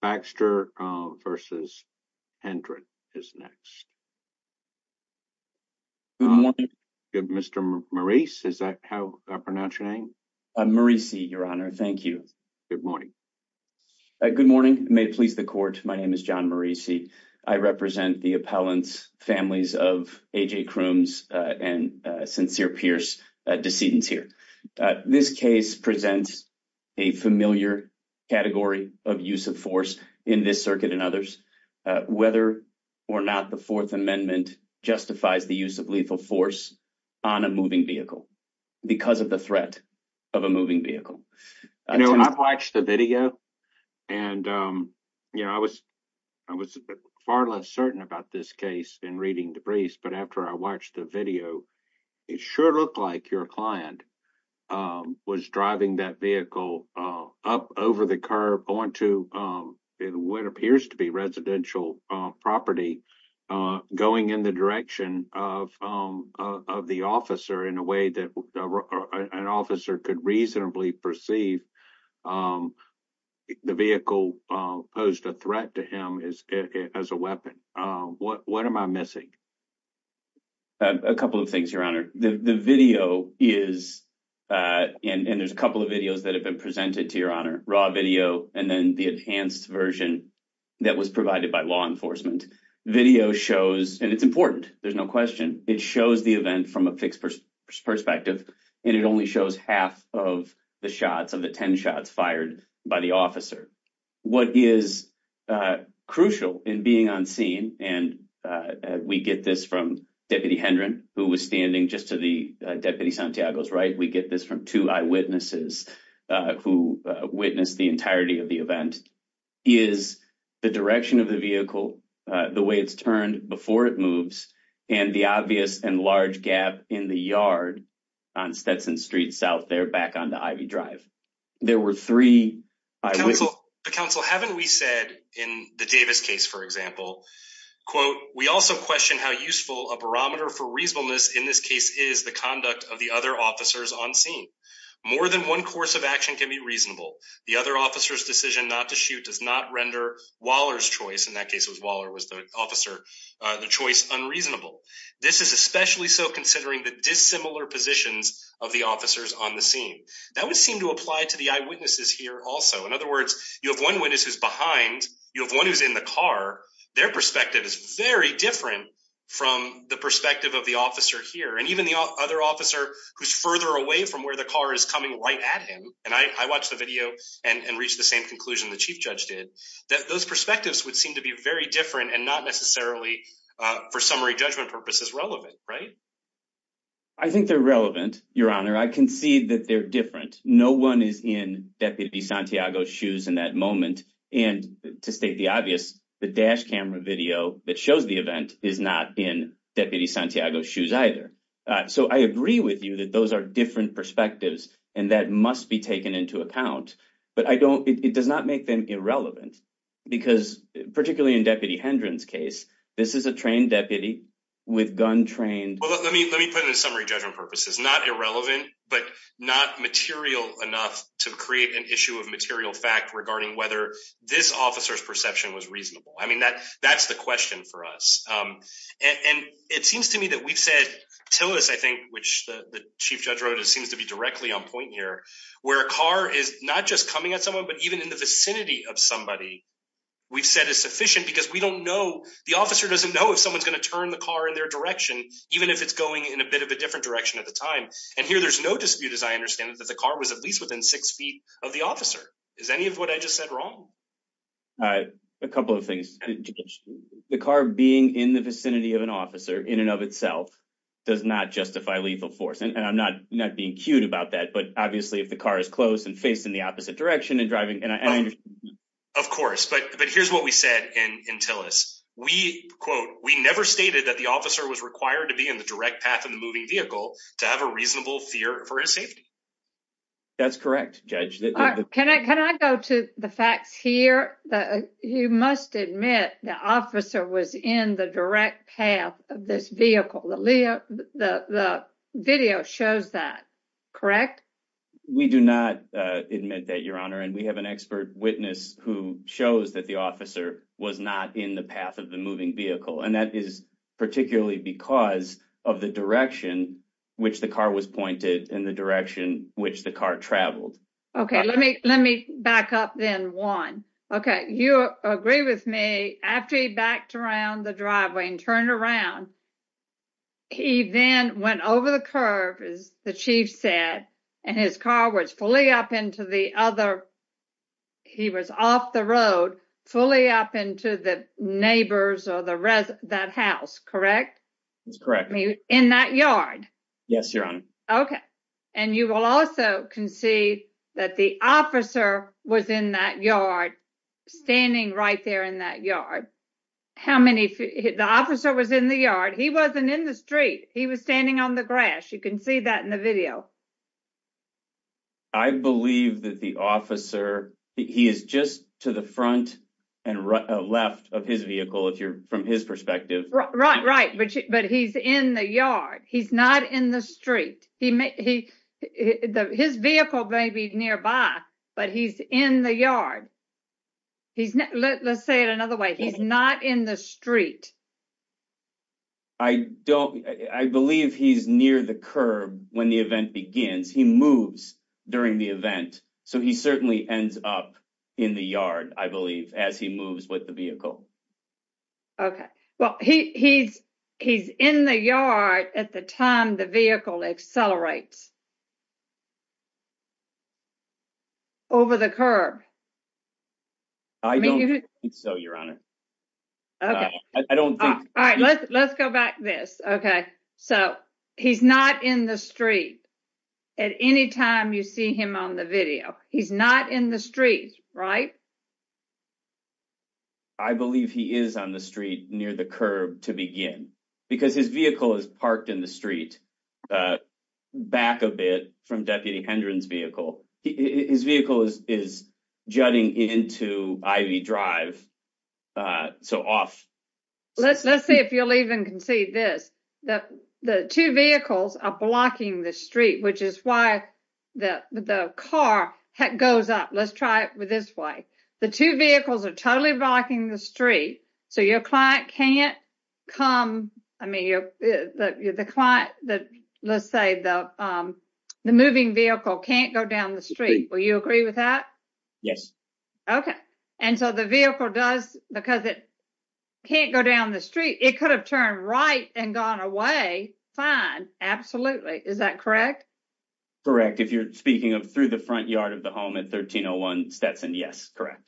Baxter v. Hendren is next. Good morning. Mr. Maurice, is that how I pronounce your name? I'm Maurice, Your Honor. Thank you. Good morning. Good morning. May it please the Court, my name is John Maurice. I represent the appellants, families of A.J. Crooms and Sincere Pierce decedents here. This case presents a familiar category of use of force in this circuit and others, whether or not the Fourth Amendment justifies the use of lethal force on a moving vehicle because of the threat of a moving vehicle. I watched the video and I was far less certain about this case in reading the briefs, but after I watched the video, it sure looked like your client was driving that vehicle up over the curb, onto what appears to be residential property, going in the direction of the officer in a way that an officer could reasonably perceive the vehicle posed a threat to him as a weapon. What am I missing? A couple of things, Your Honor. The video is, and there's a couple of videos that have been presented to Your Honor, raw video and then the enhanced version that was provided by law enforcement. Video shows, and it's important, there's no question, it shows the event from a fixed perspective and it only shows half of the shots of the 10 shots fired by the officer. What is crucial in being on scene, and we get this from Deputy Hendron, who was standing just to the Deputy Santiago's right, we get this from two eyewitnesses who witnessed the entirety of the event, is the direction of the vehicle, the way it's turned before it moves, and the obvious and large gap in the yard on Stetson Street south there back onto Ivy Drive. There were three eyewitnesses. Counsel, haven't we said in the Davis case, for example, quote, we also question how useful a barometer for reasonableness in this case is the conduct of the other officers on scene. More than one course of action can be reasonable. The other officers decision not to shoot does not render Waller's choice in that case it was Waller was the officer, the choice unreasonable. This is especially so considering the dissimilar positions of the officers on the scene that would seem to apply to the eyewitnesses here also in other words, you have one witness who's behind you have one who's in the car. Their perspective is very different from the perspective of the officer here and even the other officer who's further away from where the car is coming right at him, and I watched the video and reach the same conclusion the chief judge did that those perspectives would seem to be very different and not necessarily. For summary judgment purposes relevant right. I think they're relevant, your honor I can see that they're different. No one is in deputy Santiago shoes in that moment. And to state the obvious, the dash camera video that shows the event is not in deputy Santiago shoes either. So I agree with you that those are different perspectives, and that must be taken into account, but I don't it does not make them irrelevant, because, particularly in deputy Hendron's case, this is a trained deputy with gun trained. Let me let me put it in summary judgment purposes not irrelevant, but not material enough to create an issue of material fact regarding whether this officers perception was reasonable I mean that that's the question for us. And it seems to me that we've said till this I think which the chief judge wrote it seems to be directly on point here, where a car is not just coming at someone but even in the vicinity of somebody. We've said is sufficient because we don't know the officer doesn't know if someone's going to turn the car in their direction, even if it's going in a bit of a different direction at the time. And here there's no dispute as I understand it that the car was at least within six feet of the officer is any of what I just said wrong. A couple of things. The car being in the vicinity of an officer in and of itself does not justify lethal force and I'm not not being cute about that but obviously if the car is close and facing the opposite direction and driving and I understand. Of course, but but here's what we said in until us, we quote, we never stated that the officer was required to be in the direct path of the moving vehicle to have a reasonable fear for his safety. That's correct. Judge, can I can I go to the facts here that you must admit the officer was in the direct path of this vehicle. The video shows that. We do not admit that your honor and we have an expert witness who shows that the officer was not in the path of the moving vehicle and that is particularly because of the direction, which the car was pointed in the direction, which the car traveled. Okay, let me let me back up then one. Okay. You agree with me after he backed around the driveway and turned around. He then went over the curve is the chief said, and his car was fully up into the other. He was off the road fully up into the neighbors or the that house. Correct. That's correct. In that yard. Yes, your honor. Okay. And you will also can see that the officer was in that yard standing right there in that yard. How many the officer was in the yard. He wasn't in the street. He was standing on the grass. You can see that in the video. I believe that the officer. He is just to the front and left of his vehicle. If you're from his perspective. Right. Right. But he's in the yard. He's not in the street. He may he his vehicle may be nearby, but he's in the yard. He's let's say it another way. He's not in the street. I don't, I believe he's near the curb. When the event begins, he moves during the event. So he certainly ends up in the yard, I believe, as he moves with the vehicle. Okay, well, he's, he's in the yard at the time the vehicle accelerates over the curb. So, your honor. Okay, I don't think. All right, let's let's go back this. Okay. So, he's not in the street. At any time you see him on the video. He's not in the street. Right. I believe he is on the street near the curb to begin, because his vehicle is parked in the street. Back a bit from deputy Hendren's vehicle. His vehicle is is jutting into IV drive. So off. Let's let's see if you'll even can see this, that the two vehicles are blocking the street, which is why the car goes up. Let's try it with this way. The two vehicles are totally blocking the street. So your client can't come. I mean, the client that let's say the, the moving vehicle can't go down the street. Will you agree with that. Yes. Okay. And so the vehicle does, because it can't go down the street, it could have turned right and gone away. Fine. Absolutely. Is that correct. Correct. If you're speaking of through the front yard of the home at 1301 Stetson. Yes. Correct.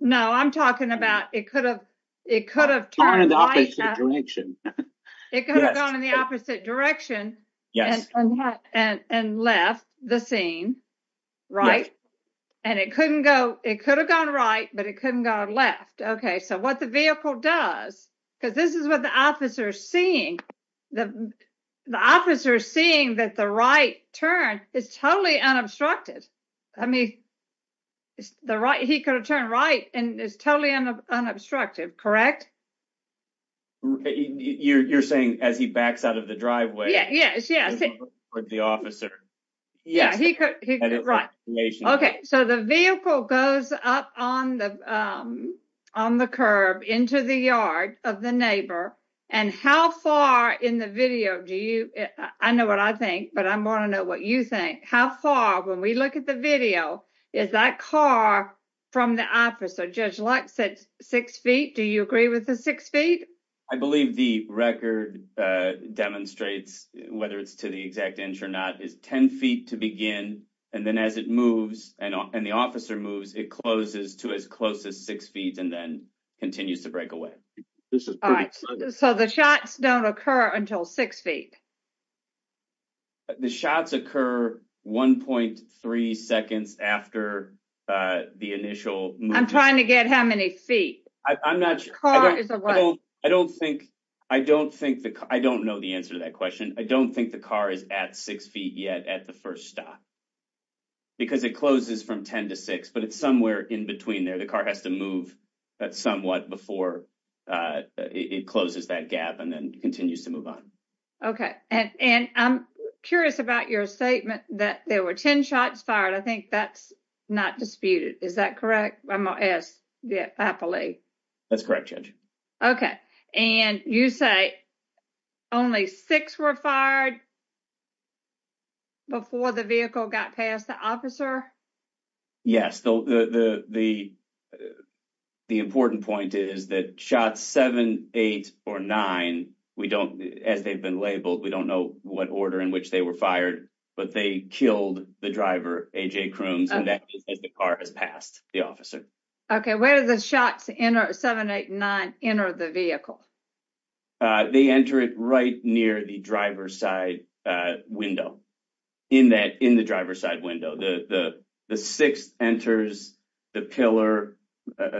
No, I'm talking about, it could have, it could have turned in the opposite direction. It could have gone in the opposite direction. Yes. And left the scene. Right. And it couldn't go, it could have gone right, but it couldn't go left. Okay, so what the vehicle does, because this is what the officer seeing the, the officer seeing that the right turn is totally unobstructed. I mean, the right, he could have turned right, and it's totally unobstructed. Correct. You're saying, as he backs out of the driveway. Yes, yes. Okay, so the vehicle goes up on the, on the curb into the yard of the neighbor. And how far in the video. Do you. I know what I think, but I'm going to know what you think how far when we look at the video is that car from the office or just like six, six feet. Do you agree with the six feet. I believe the record demonstrates, whether it's to the exact inch or not is 10 feet to begin. And then as it moves, and the officer moves it closes to as close as six feet and then continues to break away. This is so the shots don't occur until six feet. The shots occur 1.3 seconds after the initial. I'm trying to get how many feet. I'm not sure. I don't think I don't think that I don't know the answer to that question. I don't think the car is at six feet yet at the first stop. Because it closes from 10 to 6, but it's somewhere in between there. The car has to move that somewhat before it closes that gap and then continues to move on. Okay, and and I'm curious about your statement that there were 10 shots fired. I think that's not disputed. Is that correct? Yes. Yeah, happily. Okay, and you say only six were fired before the vehicle got past the officer. Yes, the, the, the, the important point is that shot seven, eight or nine. We don't as they've been labeled. We don't know what order in which they were fired, but they killed the driver. Okay, where are the shots in our 789 enter the vehicle? They enter it right near the driver's side window. In that in the driver's side window, the, the, the 6 enters the pillar,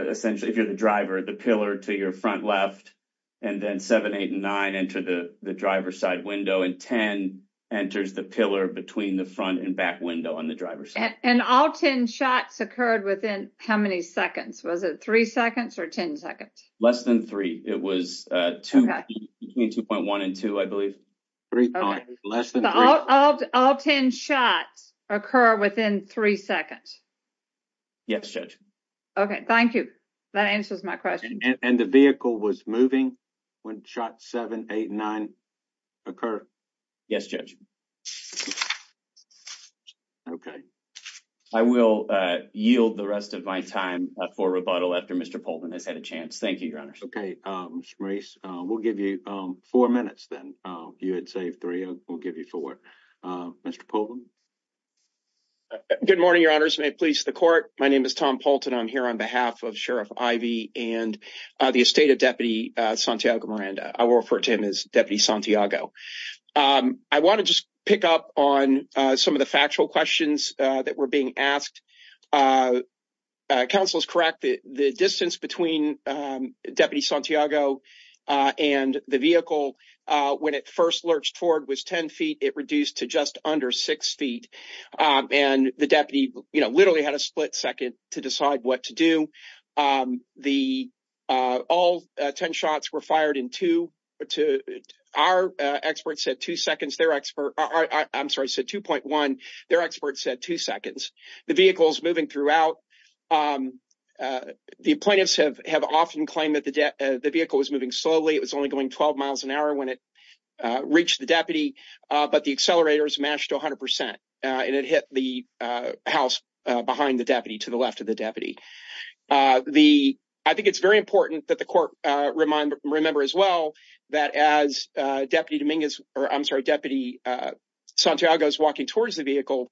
essentially, if you're the driver, the pillar to your front left. And then 789 enter the driver's side window and 10 enters the pillar between the front and back window on the driver's and all 10 shots occurred within how many seconds was it 3 seconds or 10 seconds less than 3. It was 2.1 and 2, I believe. Less than all 10 shots occur within 3 seconds. Yes, Judge. Okay, thank you. That answers my question. And the vehicle was moving when shot 789 occur. Yes, Judge. Okay. I will yield the rest of my time for rebuttal after Mr Poland has had a chance. Thank you, Your Honor. Okay. We'll give you four minutes then you had saved three will give you for Mr Poland. Good morning, Your Honor's may please the court. My name is Tom Paulton I'm here on behalf of Sheriff Ivy, and the estate of Deputy Santiago Miranda, I will refer to him as Deputy Santiago. I want to just pick up on some of the factual questions that were being asked. Council is correct that the distance between Deputy Santiago and the vehicle. When it first lurched forward was 10 feet, it reduced to just under six feet. And the deputy, you know, literally had a split second to decide what to do. The all 10 shots were fired in two to our experts at two seconds, their expert. I'm sorry. So 2.1, their experts said two seconds. The vehicle is moving throughout. The plaintiffs have have often claimed that the vehicle was moving slowly. It was only going 12 miles an hour when it reached the deputy. But the accelerators matched 100 percent, and it hit the house behind the deputy to the left of the deputy. The I think it's very important that the court remind remember as well that as Deputy Dominguez or I'm sorry, Deputy Santiago is walking towards the vehicle.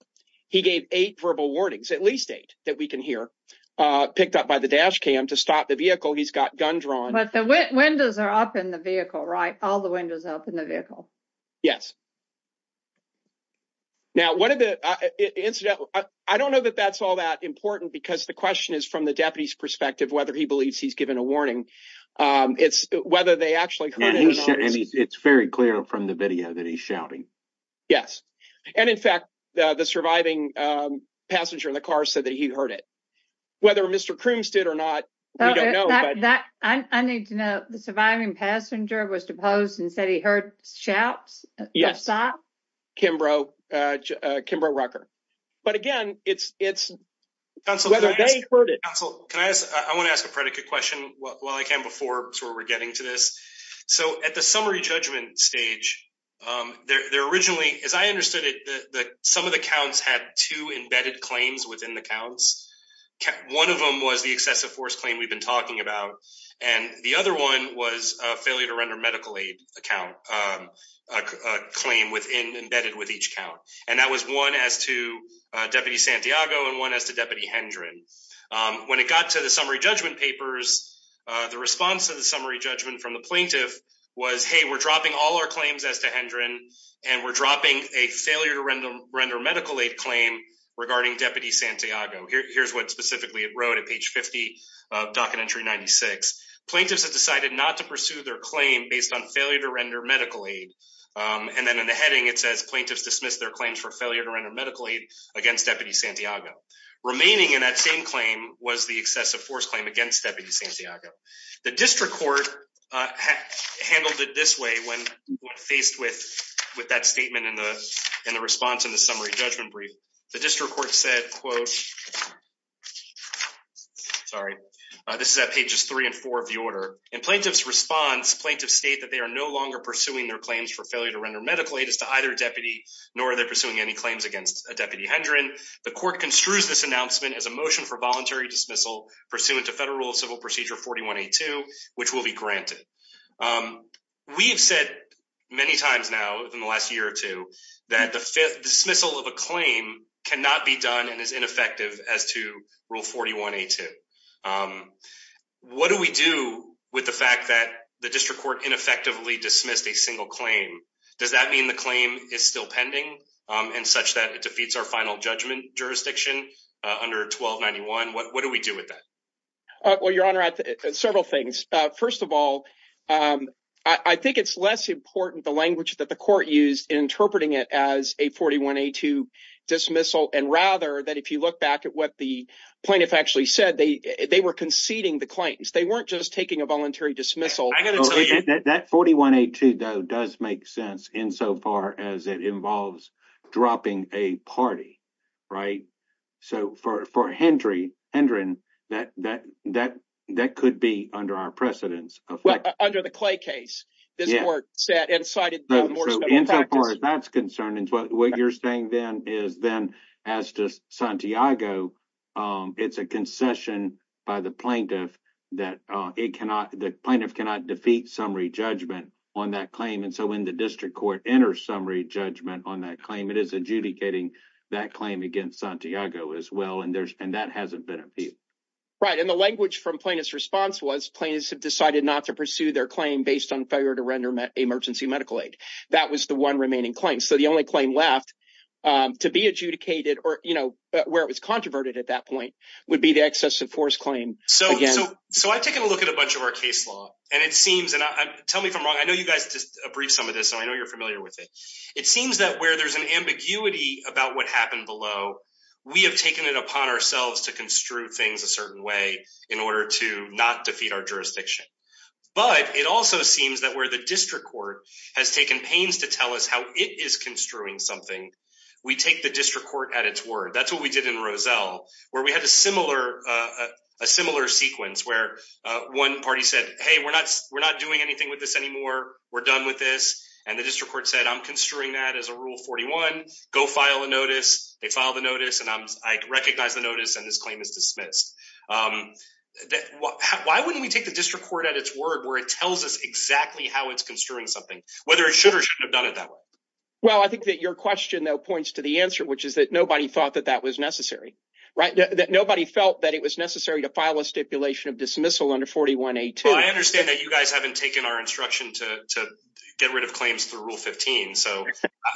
He gave eight verbal warnings, at least eight that we can hear picked up by the dash cam to stop the vehicle. He's got gun drawn. But the windows are up in the vehicle, right? All the windows up in the vehicle. Yes. Now, what did the incident? I don't know that that's all that important, because the question is from the deputy's perspective, whether he believes he's given a warning. It's whether they actually it's very clear from the video that he's shouting. Yes. And in fact, the surviving passenger in the car said that he heard it. Whether Mr. Crooms did or not, we don't know that. I need to know the surviving passenger was deposed and said he heard shouts. Yes. Kimbrough Kimbrough Rucker. But again, it's it's whether they heard it. I want to ask a predicate question while I can before we're getting to this. So at the summary judgment stage, they're originally, as I understood it, that some of the counts had two embedded claims within the counts. One of them was the excessive force claim we've been talking about. And the other one was a failure to render medical aid account claim within embedded with each count. And that was one as to Deputy Santiago and one as to Deputy Hendren. When it got to the summary judgment papers, the response to the summary judgment from the plaintiff was, hey, we're dropping all our claims as to Hendren and we're dropping a failure to render medical aid claim regarding Deputy Santiago. Here's what specifically it wrote at page 50 of docket entry. Ninety six plaintiffs have decided not to pursue their claim based on failure to render medical aid. And then in the heading, it says plaintiffs dismissed their claims for failure to render medical aid against Deputy Santiago. Remaining in that same claim was the excessive force claim against Deputy Santiago. The district court handled it this way when faced with with that statement in the in the response in the summary judgment brief. The district court said, quote, sorry, this is at pages three and four of the order. In plaintiff's response, plaintiffs state that they are no longer pursuing their claims for failure to render medical aid as to either deputy, nor are they pursuing any claims against a deputy Hendren. The court construes this announcement as a motion for voluntary dismissal pursuant to federal civil procedure. Forty one to two, which will be granted. We've said many times now in the last year or two that the fifth dismissal of a claim cannot be done and is ineffective as to rule. Forty one to two. What do we do with the fact that the district court ineffectively dismissed a single claim? Does that mean the claim is still pending and such that it defeats our final judgment jurisdiction under twelve ninety one? What do we do with that? Well, your honor, several things. First of all, I think it's less important the language that the court used in interpreting it as a forty one to dismissal. And rather than if you look back at what the plaintiff actually said, they they were conceding the claims. They weren't just taking a voluntary dismissal. That forty one eight two, though, does make sense insofar as it involves dropping a party. Right. So for for Hendry Hendren, that that that that could be under our precedence. Under the Clay case, this court set and decided that that's concerning. What you're saying then is then as to Santiago, it's a concession by the plaintiff that it cannot the plaintiff cannot defeat summary judgment on that claim. And so when the district court enters summary judgment on that claim, it is adjudicating that claim against Santiago as well. And there's and that hasn't been appealed. Right. And the language from plaintiff's response was plaintiffs have decided not to pursue their claim based on failure to render emergency medical aid. That was the one remaining claim. So the only claim left to be adjudicated or where it was controverted at that point would be the excessive force claim. So. So I've taken a look at a bunch of our case law and it seems and tell me if I'm wrong. I know you guys just a brief some of this. I know you're familiar with it. It seems that where there's an ambiguity about what happened below, we have taken it upon ourselves to construe things a certain way in order to not defeat our jurisdiction. But it also seems that where the district court has taken pains to tell us how it is construing something, we take the district court at its word. That's what we did in Roselle, where we had a similar a similar sequence where one party said, hey, we're not we're not doing anything with this anymore. We're done with this. And the district court said, I'm construing that as a rule. 41 go file a notice. They filed a notice and I recognize the notice and this claim is dismissed. Why wouldn't we take the district court at its word where it tells us exactly how it's construing something, whether it should or should have done it that way? Well, I think that your question, though, points to the answer, which is that nobody thought that that was necessary. Right. Nobody felt that it was necessary to file a stipulation of dismissal under 41. I understand that you guys haven't taken our instruction to get rid of claims through Rule 15. So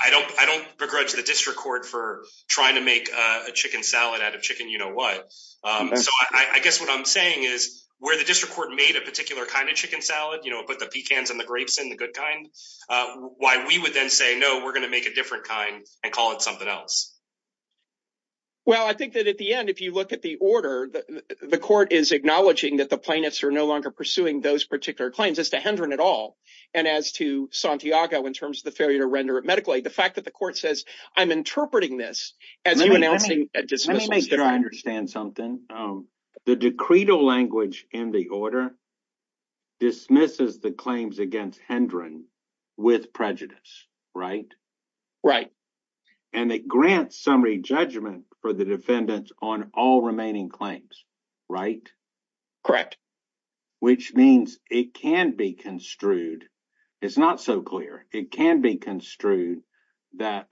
I don't I don't begrudge the district court for trying to make a chicken salad out of chicken. You know what? So I guess what I'm saying is where the district court made a particular kind of chicken salad, you know, put the pecans and the grapes in the good kind. Why we would then say, no, we're going to make a different kind and call it something else. Well, I think that at the end, if you look at the order, the court is acknowledging that the plaintiffs are no longer pursuing those particular claims as to Hendren at all. And as to Santiago, in terms of the failure to render it medically, the fact that the court says, I'm interpreting this as you announcing a dismissal. Let me make sure I understand something. The decreed language in the order dismisses the claims against Hendren with prejudice. Right. Right. And they grant summary judgment for the defendants on all remaining claims. Right. Correct. Which means it can be construed. It's not so clear. It can be construed that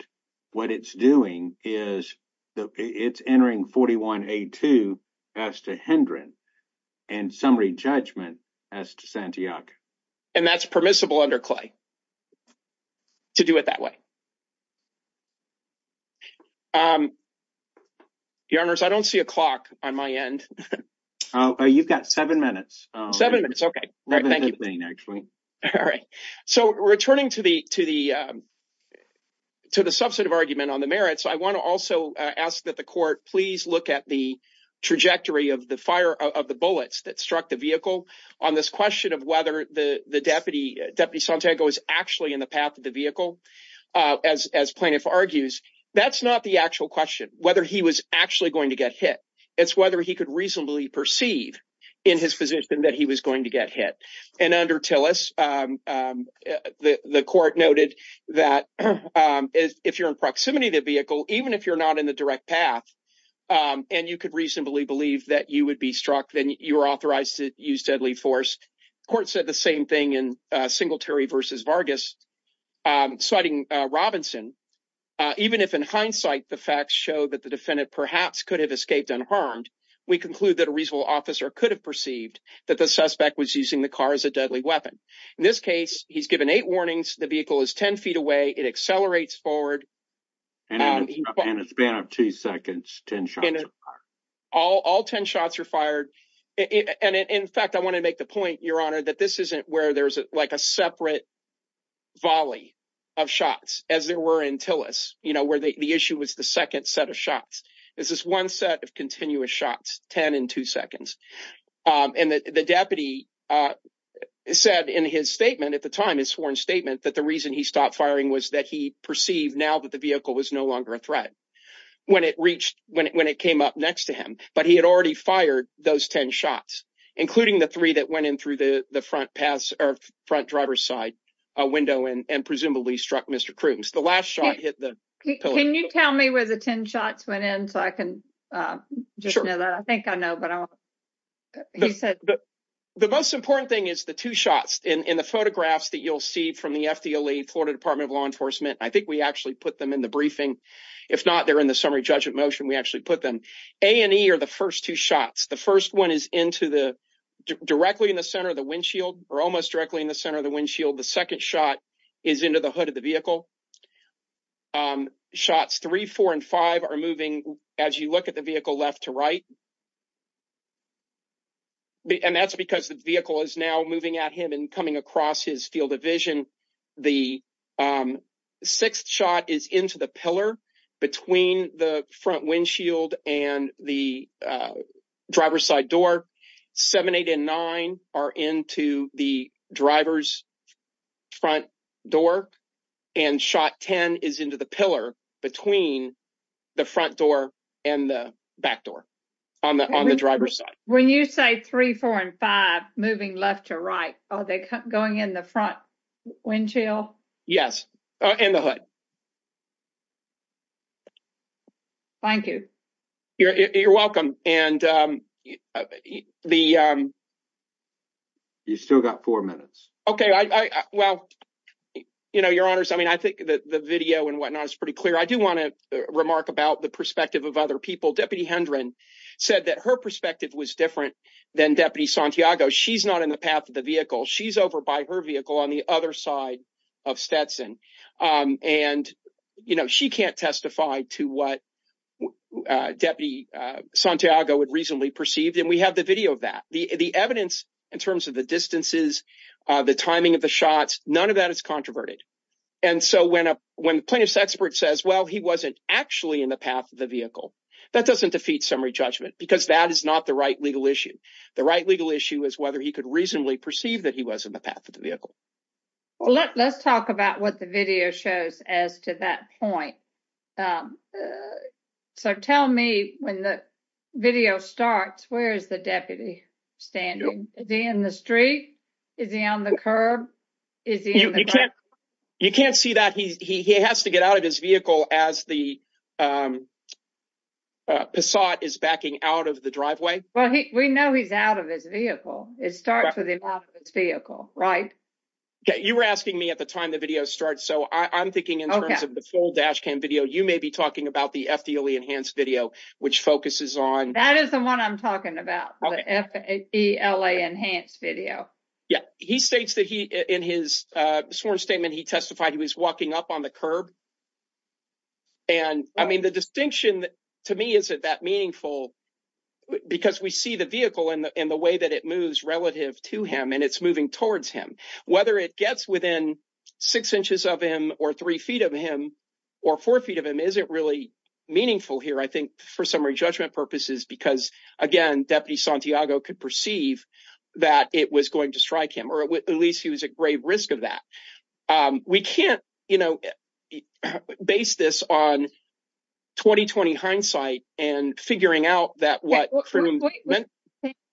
what it's doing is it's entering forty one, a two as to Hendren and summary judgment as to Santiago. And that's permissible under Clay to do it that way. Your Honors, I don't see a clock on my end. You've got seven minutes. Seven minutes. OK. Thank you. All right. So returning to the to the to the substantive argument on the merits, I want to also ask that the court please look at the trajectory of the fire of the bullets that struck the vehicle on this question of whether the deputy deputy Santiago is actually in the path of the vehicle. As plaintiff argues, that's not the actual question, whether he was actually going to get hit. It's whether he could reasonably perceive in his position that he was going to get hit. And under Tillis, the court noted that if you're in proximity to the vehicle, even if you're not in the direct path and you could reasonably believe that you would be struck, then you are authorized to use deadly force. The court said the same thing in Singletary versus Vargas citing Robinson. Even if in hindsight, the facts show that the defendant perhaps could have escaped unharmed. We conclude that a reasonable officer could have perceived that the suspect was using the car as a deadly weapon. In this case, he's given eight warnings. The vehicle is 10 feet away. It accelerates forward. And in a span of two seconds, 10 shots are fired. All 10 shots are fired. And in fact, I want to make the point, Your Honor, that this isn't where there's like a separate volley of shots as there were in Tillis, you know, where the issue was the second set of shots. This is one set of continuous shots, 10 and two seconds. And the deputy said in his statement at the time, his sworn statement, that the reason he stopped firing was that he perceived now that the vehicle was no longer a threat when it reached when it came up next to him. But he had already fired those 10 shots, including the three that went in through the front pass or front driver's side window and presumably struck Mr. Can you tell me where the 10 shots went in so I can just know that I think I know. But he said the most important thing is the two shots in the photographs that you'll see from the FDA, the Florida Department of Law Enforcement. I think we actually put them in the briefing. If not, they're in the summary judgment motion. We actually put them A and E are the first two shots. The first one is into the directly in the center of the windshield or almost directly in the center of the windshield. The second shot is into the hood of the vehicle. Shots three, four and five are moving. As you look at the vehicle left to right. And that's because the vehicle is now moving at him and coming across his field of vision. The sixth shot is into the pillar between the front windshield and the driver's side door. Seven, eight and nine are into the driver's front door. And shot 10 is into the pillar between the front door and the back door on the driver's side. When you say three, four and five moving left to right, are they going in the front windshield? Yes. And the hood. Thank you. You're welcome. And the. You still got four minutes. OK, well, you know, your honors, I mean, I think the video and whatnot is pretty clear. I do want to remark about the perspective of other people. Deputy Hendren said that her perspective was different than Deputy Santiago. She's not in the path of the vehicle. She's over by her vehicle on the other side of Stetson. And, you know, she can't testify to what Deputy Santiago would reasonably perceive. And we have the video of that. The evidence in terms of the distances, the timing of the shots, none of that is controverted. And so when a when plaintiff's expert says, well, he wasn't actually in the path of the vehicle, that doesn't defeat summary judgment because that is not the right legal issue. The right legal issue is whether he could reasonably perceive that he was in the path of the vehicle. Let's talk about what the video shows as to that point. So tell me when the video starts, where is the deputy standing in the street? Is he on the curb? You can't see that. He has to get out of his vehicle as the facade is backing out of the driveway. Well, we know he's out of his vehicle. It starts with him off his vehicle. Right. You were asking me at the time the video starts. So I'm thinking in terms of the full dash cam video, you may be talking about the FDA enhanced video, which focuses on. That is the one I'm talking about. F.A.E.L.A. enhanced video. Yeah. He states that he in his sworn statement, he testified he was walking up on the curb. And I mean, the distinction to me isn't that meaningful because we see the vehicle and the way that it moves relative to him and it's moving towards him, whether it gets within six inches of him or three feet of him or four feet of him isn't really meaningful here. I think for summary judgment purposes, because, again, Deputy Santiago could perceive that it was going to strike him or at least he was at grave risk of that. We can't, you know, base this on 2020 hindsight and figuring out that what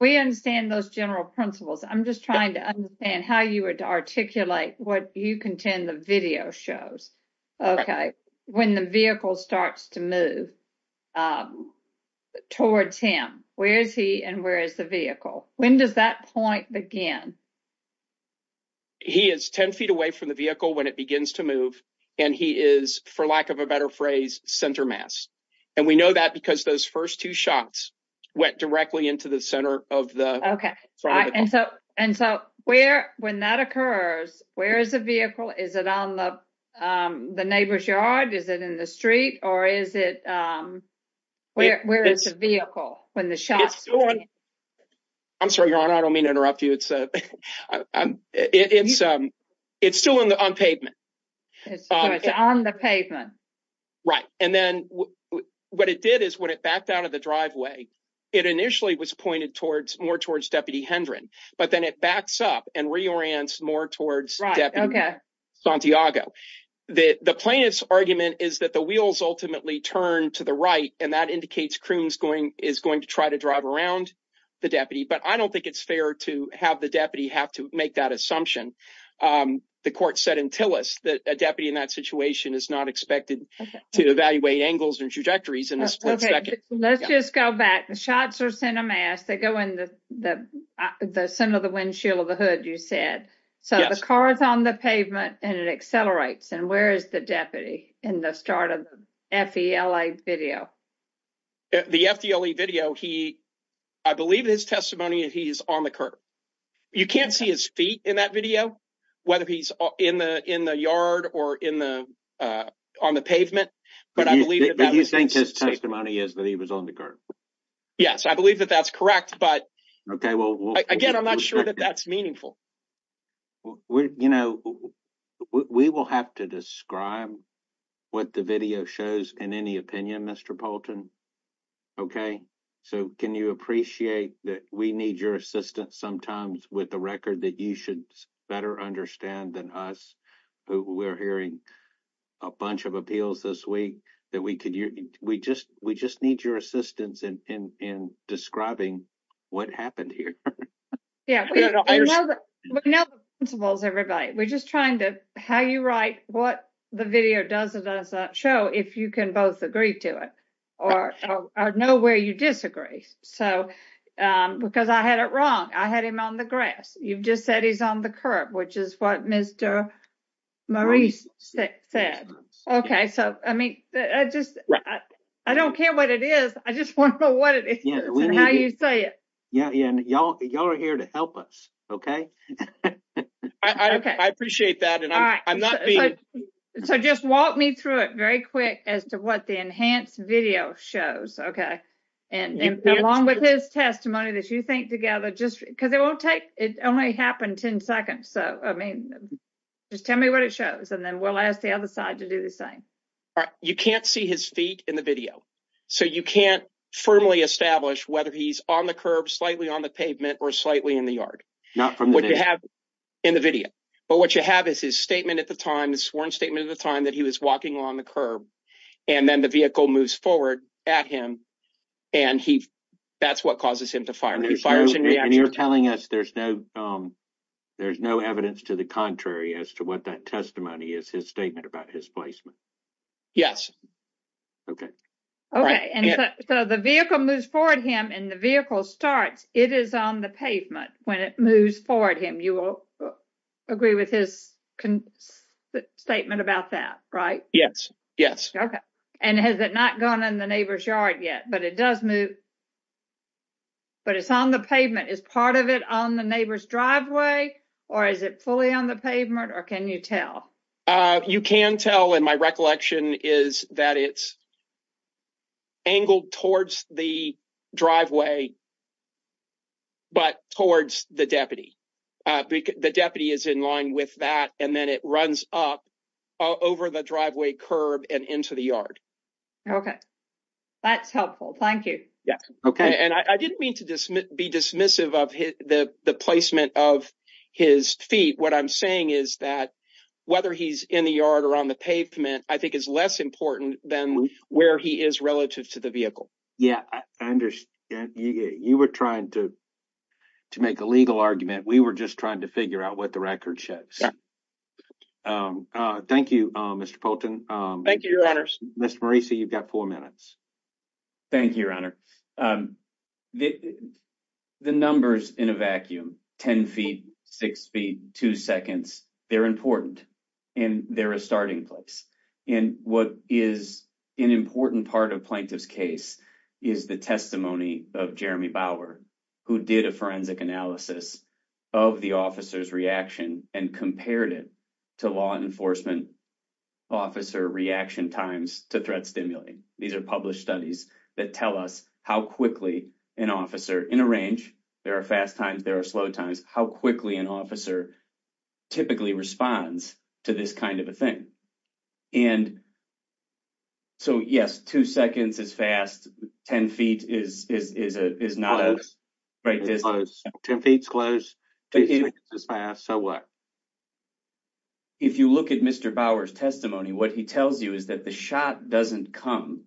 we understand, those general principles. I'm just trying to understand how you articulate what you contend the video shows. OK, when the vehicle starts to move towards him, where is he and where is the vehicle? When does that point begin? He is 10 feet away from the vehicle when it begins to move and he is, for lack of a better phrase, center mass. And we know that because those first two shots went directly into the center of the. OK, and so and so where when that occurs, where is the vehicle? Is it on the neighbor's yard? Is it in the street or is it where it's a vehicle when the shots? I'm sorry, your honor. I don't mean to interrupt you. It's it's it's still on the pavement on the pavement. Right. And then what it did is when it backed out of the driveway, it initially was pointed towards more towards Deputy Hendron. But then it backs up and reorients more towards Santiago that the plaintiff's argument is that the wheels ultimately turn to the right. And that indicates Croom's going is going to try to drive around the deputy. But I don't think it's fair to have the deputy have to make that assumption. The court said in Tillis that a deputy in that situation is not expected to evaluate angles and trajectories in a split second. Let's just go back. The shots are center mass. They go in the the center of the windshield of the hood, you said. So the car is on the pavement and it accelerates. And where is the deputy in the start of the video? The video he I believe his testimony, he's on the curb. You can't see his feet in that video, whether he's in the in the yard or in the on the pavement. But I believe that you think his testimony is that he was on the curb. Yes, I believe that that's correct. But OK, well, again, I'm not sure that that's meaningful. Well, you know, we will have to describe what the video shows in any opinion, Mr. Bolton. OK, so can you appreciate that? We need your assistance sometimes with the record that you should better understand than us. We're hearing a bunch of appeals this week that we could. We just we just need your assistance in describing what happened here. Yeah, we know the principles, everybody. We're just trying to how you write what the video does. It does not show if you can both agree to it or know where you disagree. So because I had it wrong, I had him on the grass. You've just said he's on the curb, which is what Mr. Maurice said. OK, so I mean, I just I don't care what it is. I just want to know what it is. Yeah. Yeah. And you're here to help us. OK, I appreciate that. And I'm not so just walk me through it very quick as to what the enhanced video shows. OK. And along with his testimony that you think together, just because it won't take it only happened ten seconds. So, I mean, just tell me what it shows and then we'll ask the other side to do the same. You can't see his feet in the video, so you can't firmly establish whether he's on the curb, slightly on the pavement or slightly in the yard. Not from what you have in the video. But what you have is his statement at the time, the sworn statement of the time that he was walking on the curb. And then the vehicle moves forward at him. And he that's what causes him to fire. You're telling us there's no there's no evidence to the contrary as to what that testimony is, his statement about his placement. Yes. OK. OK. And so the vehicle moves forward him and the vehicle starts. It is on the pavement when it moves forward him. You will agree with his statement about that, right? Yes. Yes. OK. And has it not gone in the neighbor's yard yet? But it does move. But it's on the pavement is part of it on the neighbor's driveway or is it fully on the pavement or can you tell? You can tell. And my recollection is that it's. Angled towards the driveway. But towards the deputy, the deputy is in line with that and then it runs up. Over the driveway curb and into the yard. OK, that's helpful. Thank you. Yeah. OK. And I didn't mean to be dismissive of the placement of his feet. What I'm saying is that whether he's in the yard or on the pavement, I think is less important than where he is relative to the vehicle. Yeah, I understand. You were trying to to make a legal argument. We were just trying to figure out what the record shows. Thank you, Mr. Poulton. Thank you, Your Honors. Mr. Marisa, you've got four minutes. Thank you, Your Honor. The numbers in a vacuum, 10 feet, six feet, two seconds. They're important and they're a starting place. And what is an important part of plaintiff's case is the testimony of Jeremy Bauer, who did a forensic analysis of the officer's reaction and compared it to law enforcement. Officer reaction times to threat stimulating. These are published studies that tell us how quickly an officer in a range. There are fast times. There are slow times. How quickly an officer typically responds to this kind of a thing. And. So, yes, two seconds is fast. Ten feet is is is not close. It's close. So what? If you look at Mr. Bauer's testimony, what he tells you is that the shot doesn't come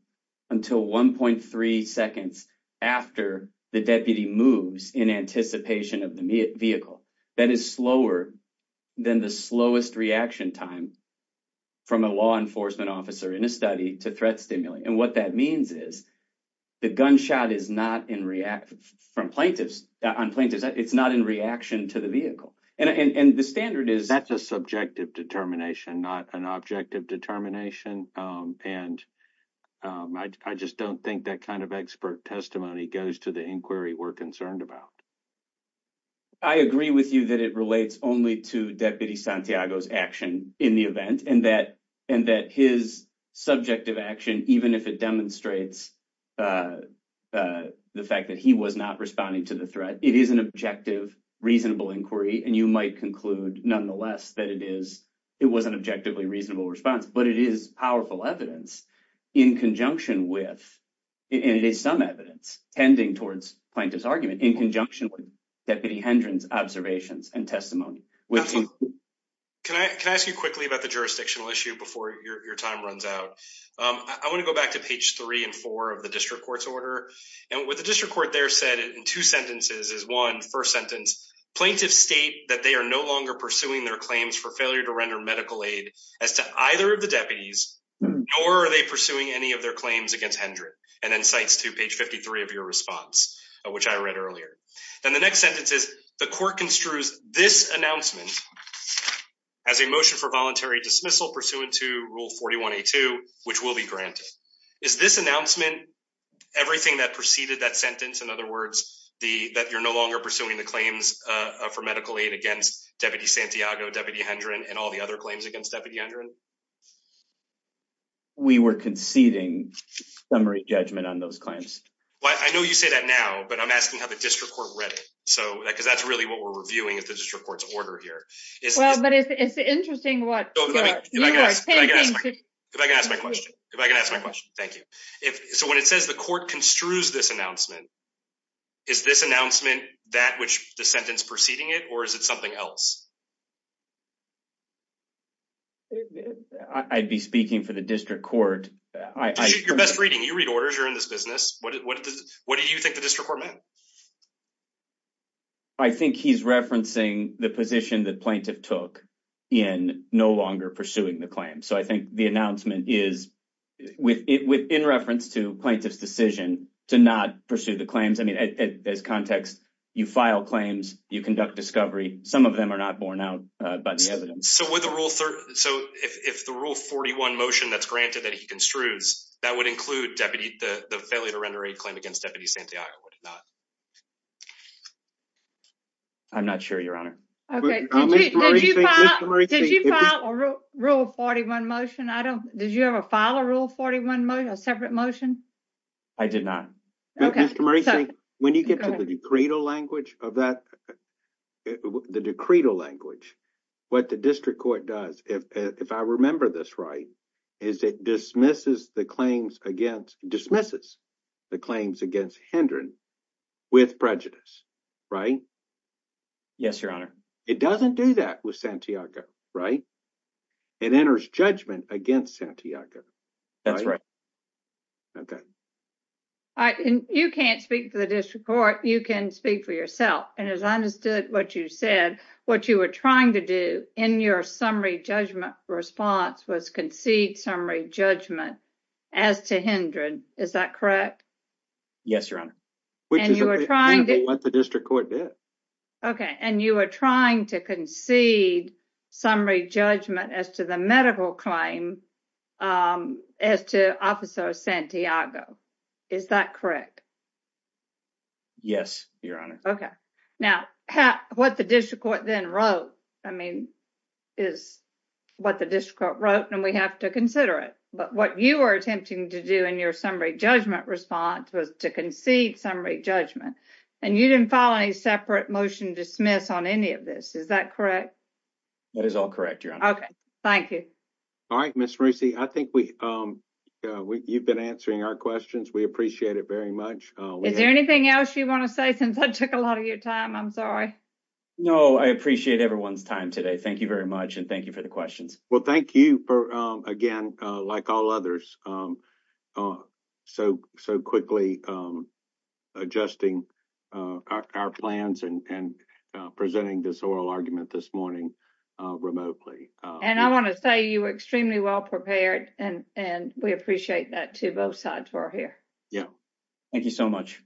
until one point three seconds after the deputy moves in anticipation of the vehicle. That is slower than the slowest reaction time. From a law enforcement officer in a study to threat stimuli. And what that means is the gunshot is not in react from plaintiffs on plaintiffs. It's not in reaction to the vehicle. And the standard is that's a subjective determination, not an objective determination. And I just don't think that kind of expert testimony goes to the inquiry we're concerned about. I agree with you that it relates only to deputy Santiago's action in the event. And that and that his subjective action, even if it demonstrates the fact that he was not responding to the threat, it is an objective, reasonable inquiry. And you might conclude, nonetheless, that it is it was an objectively reasonable response, but it is powerful evidence in conjunction with. And it is some evidence tending towards plaintiff's argument in conjunction with deputy Hendron's observations and testimony. Can I can I ask you quickly about the jurisdictional issue before your time runs out? I want to go back to page three and four of the district court's order. And what the district court there said in two sentences is one first sentence. Plaintiffs state that they are no longer pursuing their claims for failure to render medical aid as to either of the deputies. Or are they pursuing any of their claims against Hendrick? And then cites to page fifty three of your response, which I read earlier. And the next sentence is the court construes this announcement as a motion for voluntary dismissal pursuant to rule forty one to two, which will be granted. Is this announcement everything that preceded that sentence? In other words, the that you're no longer pursuing the claims for medical aid against Deputy Santiago, Deputy Hendron and all the other claims against Deputy Hendron. We were conceding summary judgment on those claims. Well, I know you say that now, but I'm asking how the district court read it. So because that's really what we're reviewing is the district court's order here. Well, but it's interesting what I can ask my question if I can ask my question. Thank you. So when it says the court construes this announcement. Is this announcement that which the sentence preceding it or is it something else? I'd be speaking for the district court. Your best reading. You read orders are in this business. What do you think the district court meant? I think he's referencing the position that plaintiff took in no longer pursuing the claim. So I think the announcement is with it in reference to plaintiff's decision to not pursue the claims. I mean, as context, you file claims, you conduct discovery. Some of them are not borne out by the evidence. So with the rule. So if the rule 41 motion that's granted that he construes, that would include deputy, the failure to render a claim against Deputy Santiago. I'm not sure, Your Honor. Did you file a rule 41 motion? I don't. Did you ever file a rule 41 motion, a separate motion? I did not. Mr. Murray, when you get to the cradle language of that, the decree to language, what the district court does, if I remember this right, is it dismisses the claims against dismisses the claims against Hendren with prejudice. Right. Yes, Your Honor. It doesn't do that with Santiago. Right. It enters judgment against Santiago. That's right. You can't speak to the district court. You can speak for yourself. And as I understood what you said, what you were trying to do in your summary judgment response was concede summary judgment as to Hendren. Is that correct? Yes, Your Honor. Which is what the district court did. Okay. And you are trying to concede summary judgment as to the medical claim as to Officer Santiago. Is that correct? Yes, Your Honor. Okay. Now, what the district court then wrote, I mean, is what the district wrote and we have to consider it. But what you are attempting to do in your summary judgment response was to concede summary judgment. And you didn't file any separate motion dismiss on any of this. Is that correct? That is all correct, Your Honor. Okay. Thank you. All right, Ms. Marucci, I think we you've been answering our questions. We appreciate it very much. Is there anything else you want to say since I took a lot of your time? I'm sorry. No, I appreciate everyone's time today. Thank you very much. And thank you for the questions. Well, thank you for, again, like all others, so quickly adjusting our plans and presenting this oral argument this morning remotely. And I want to say you were extremely well prepared and we appreciate that to both sides who are here. Yeah. Thank you so much.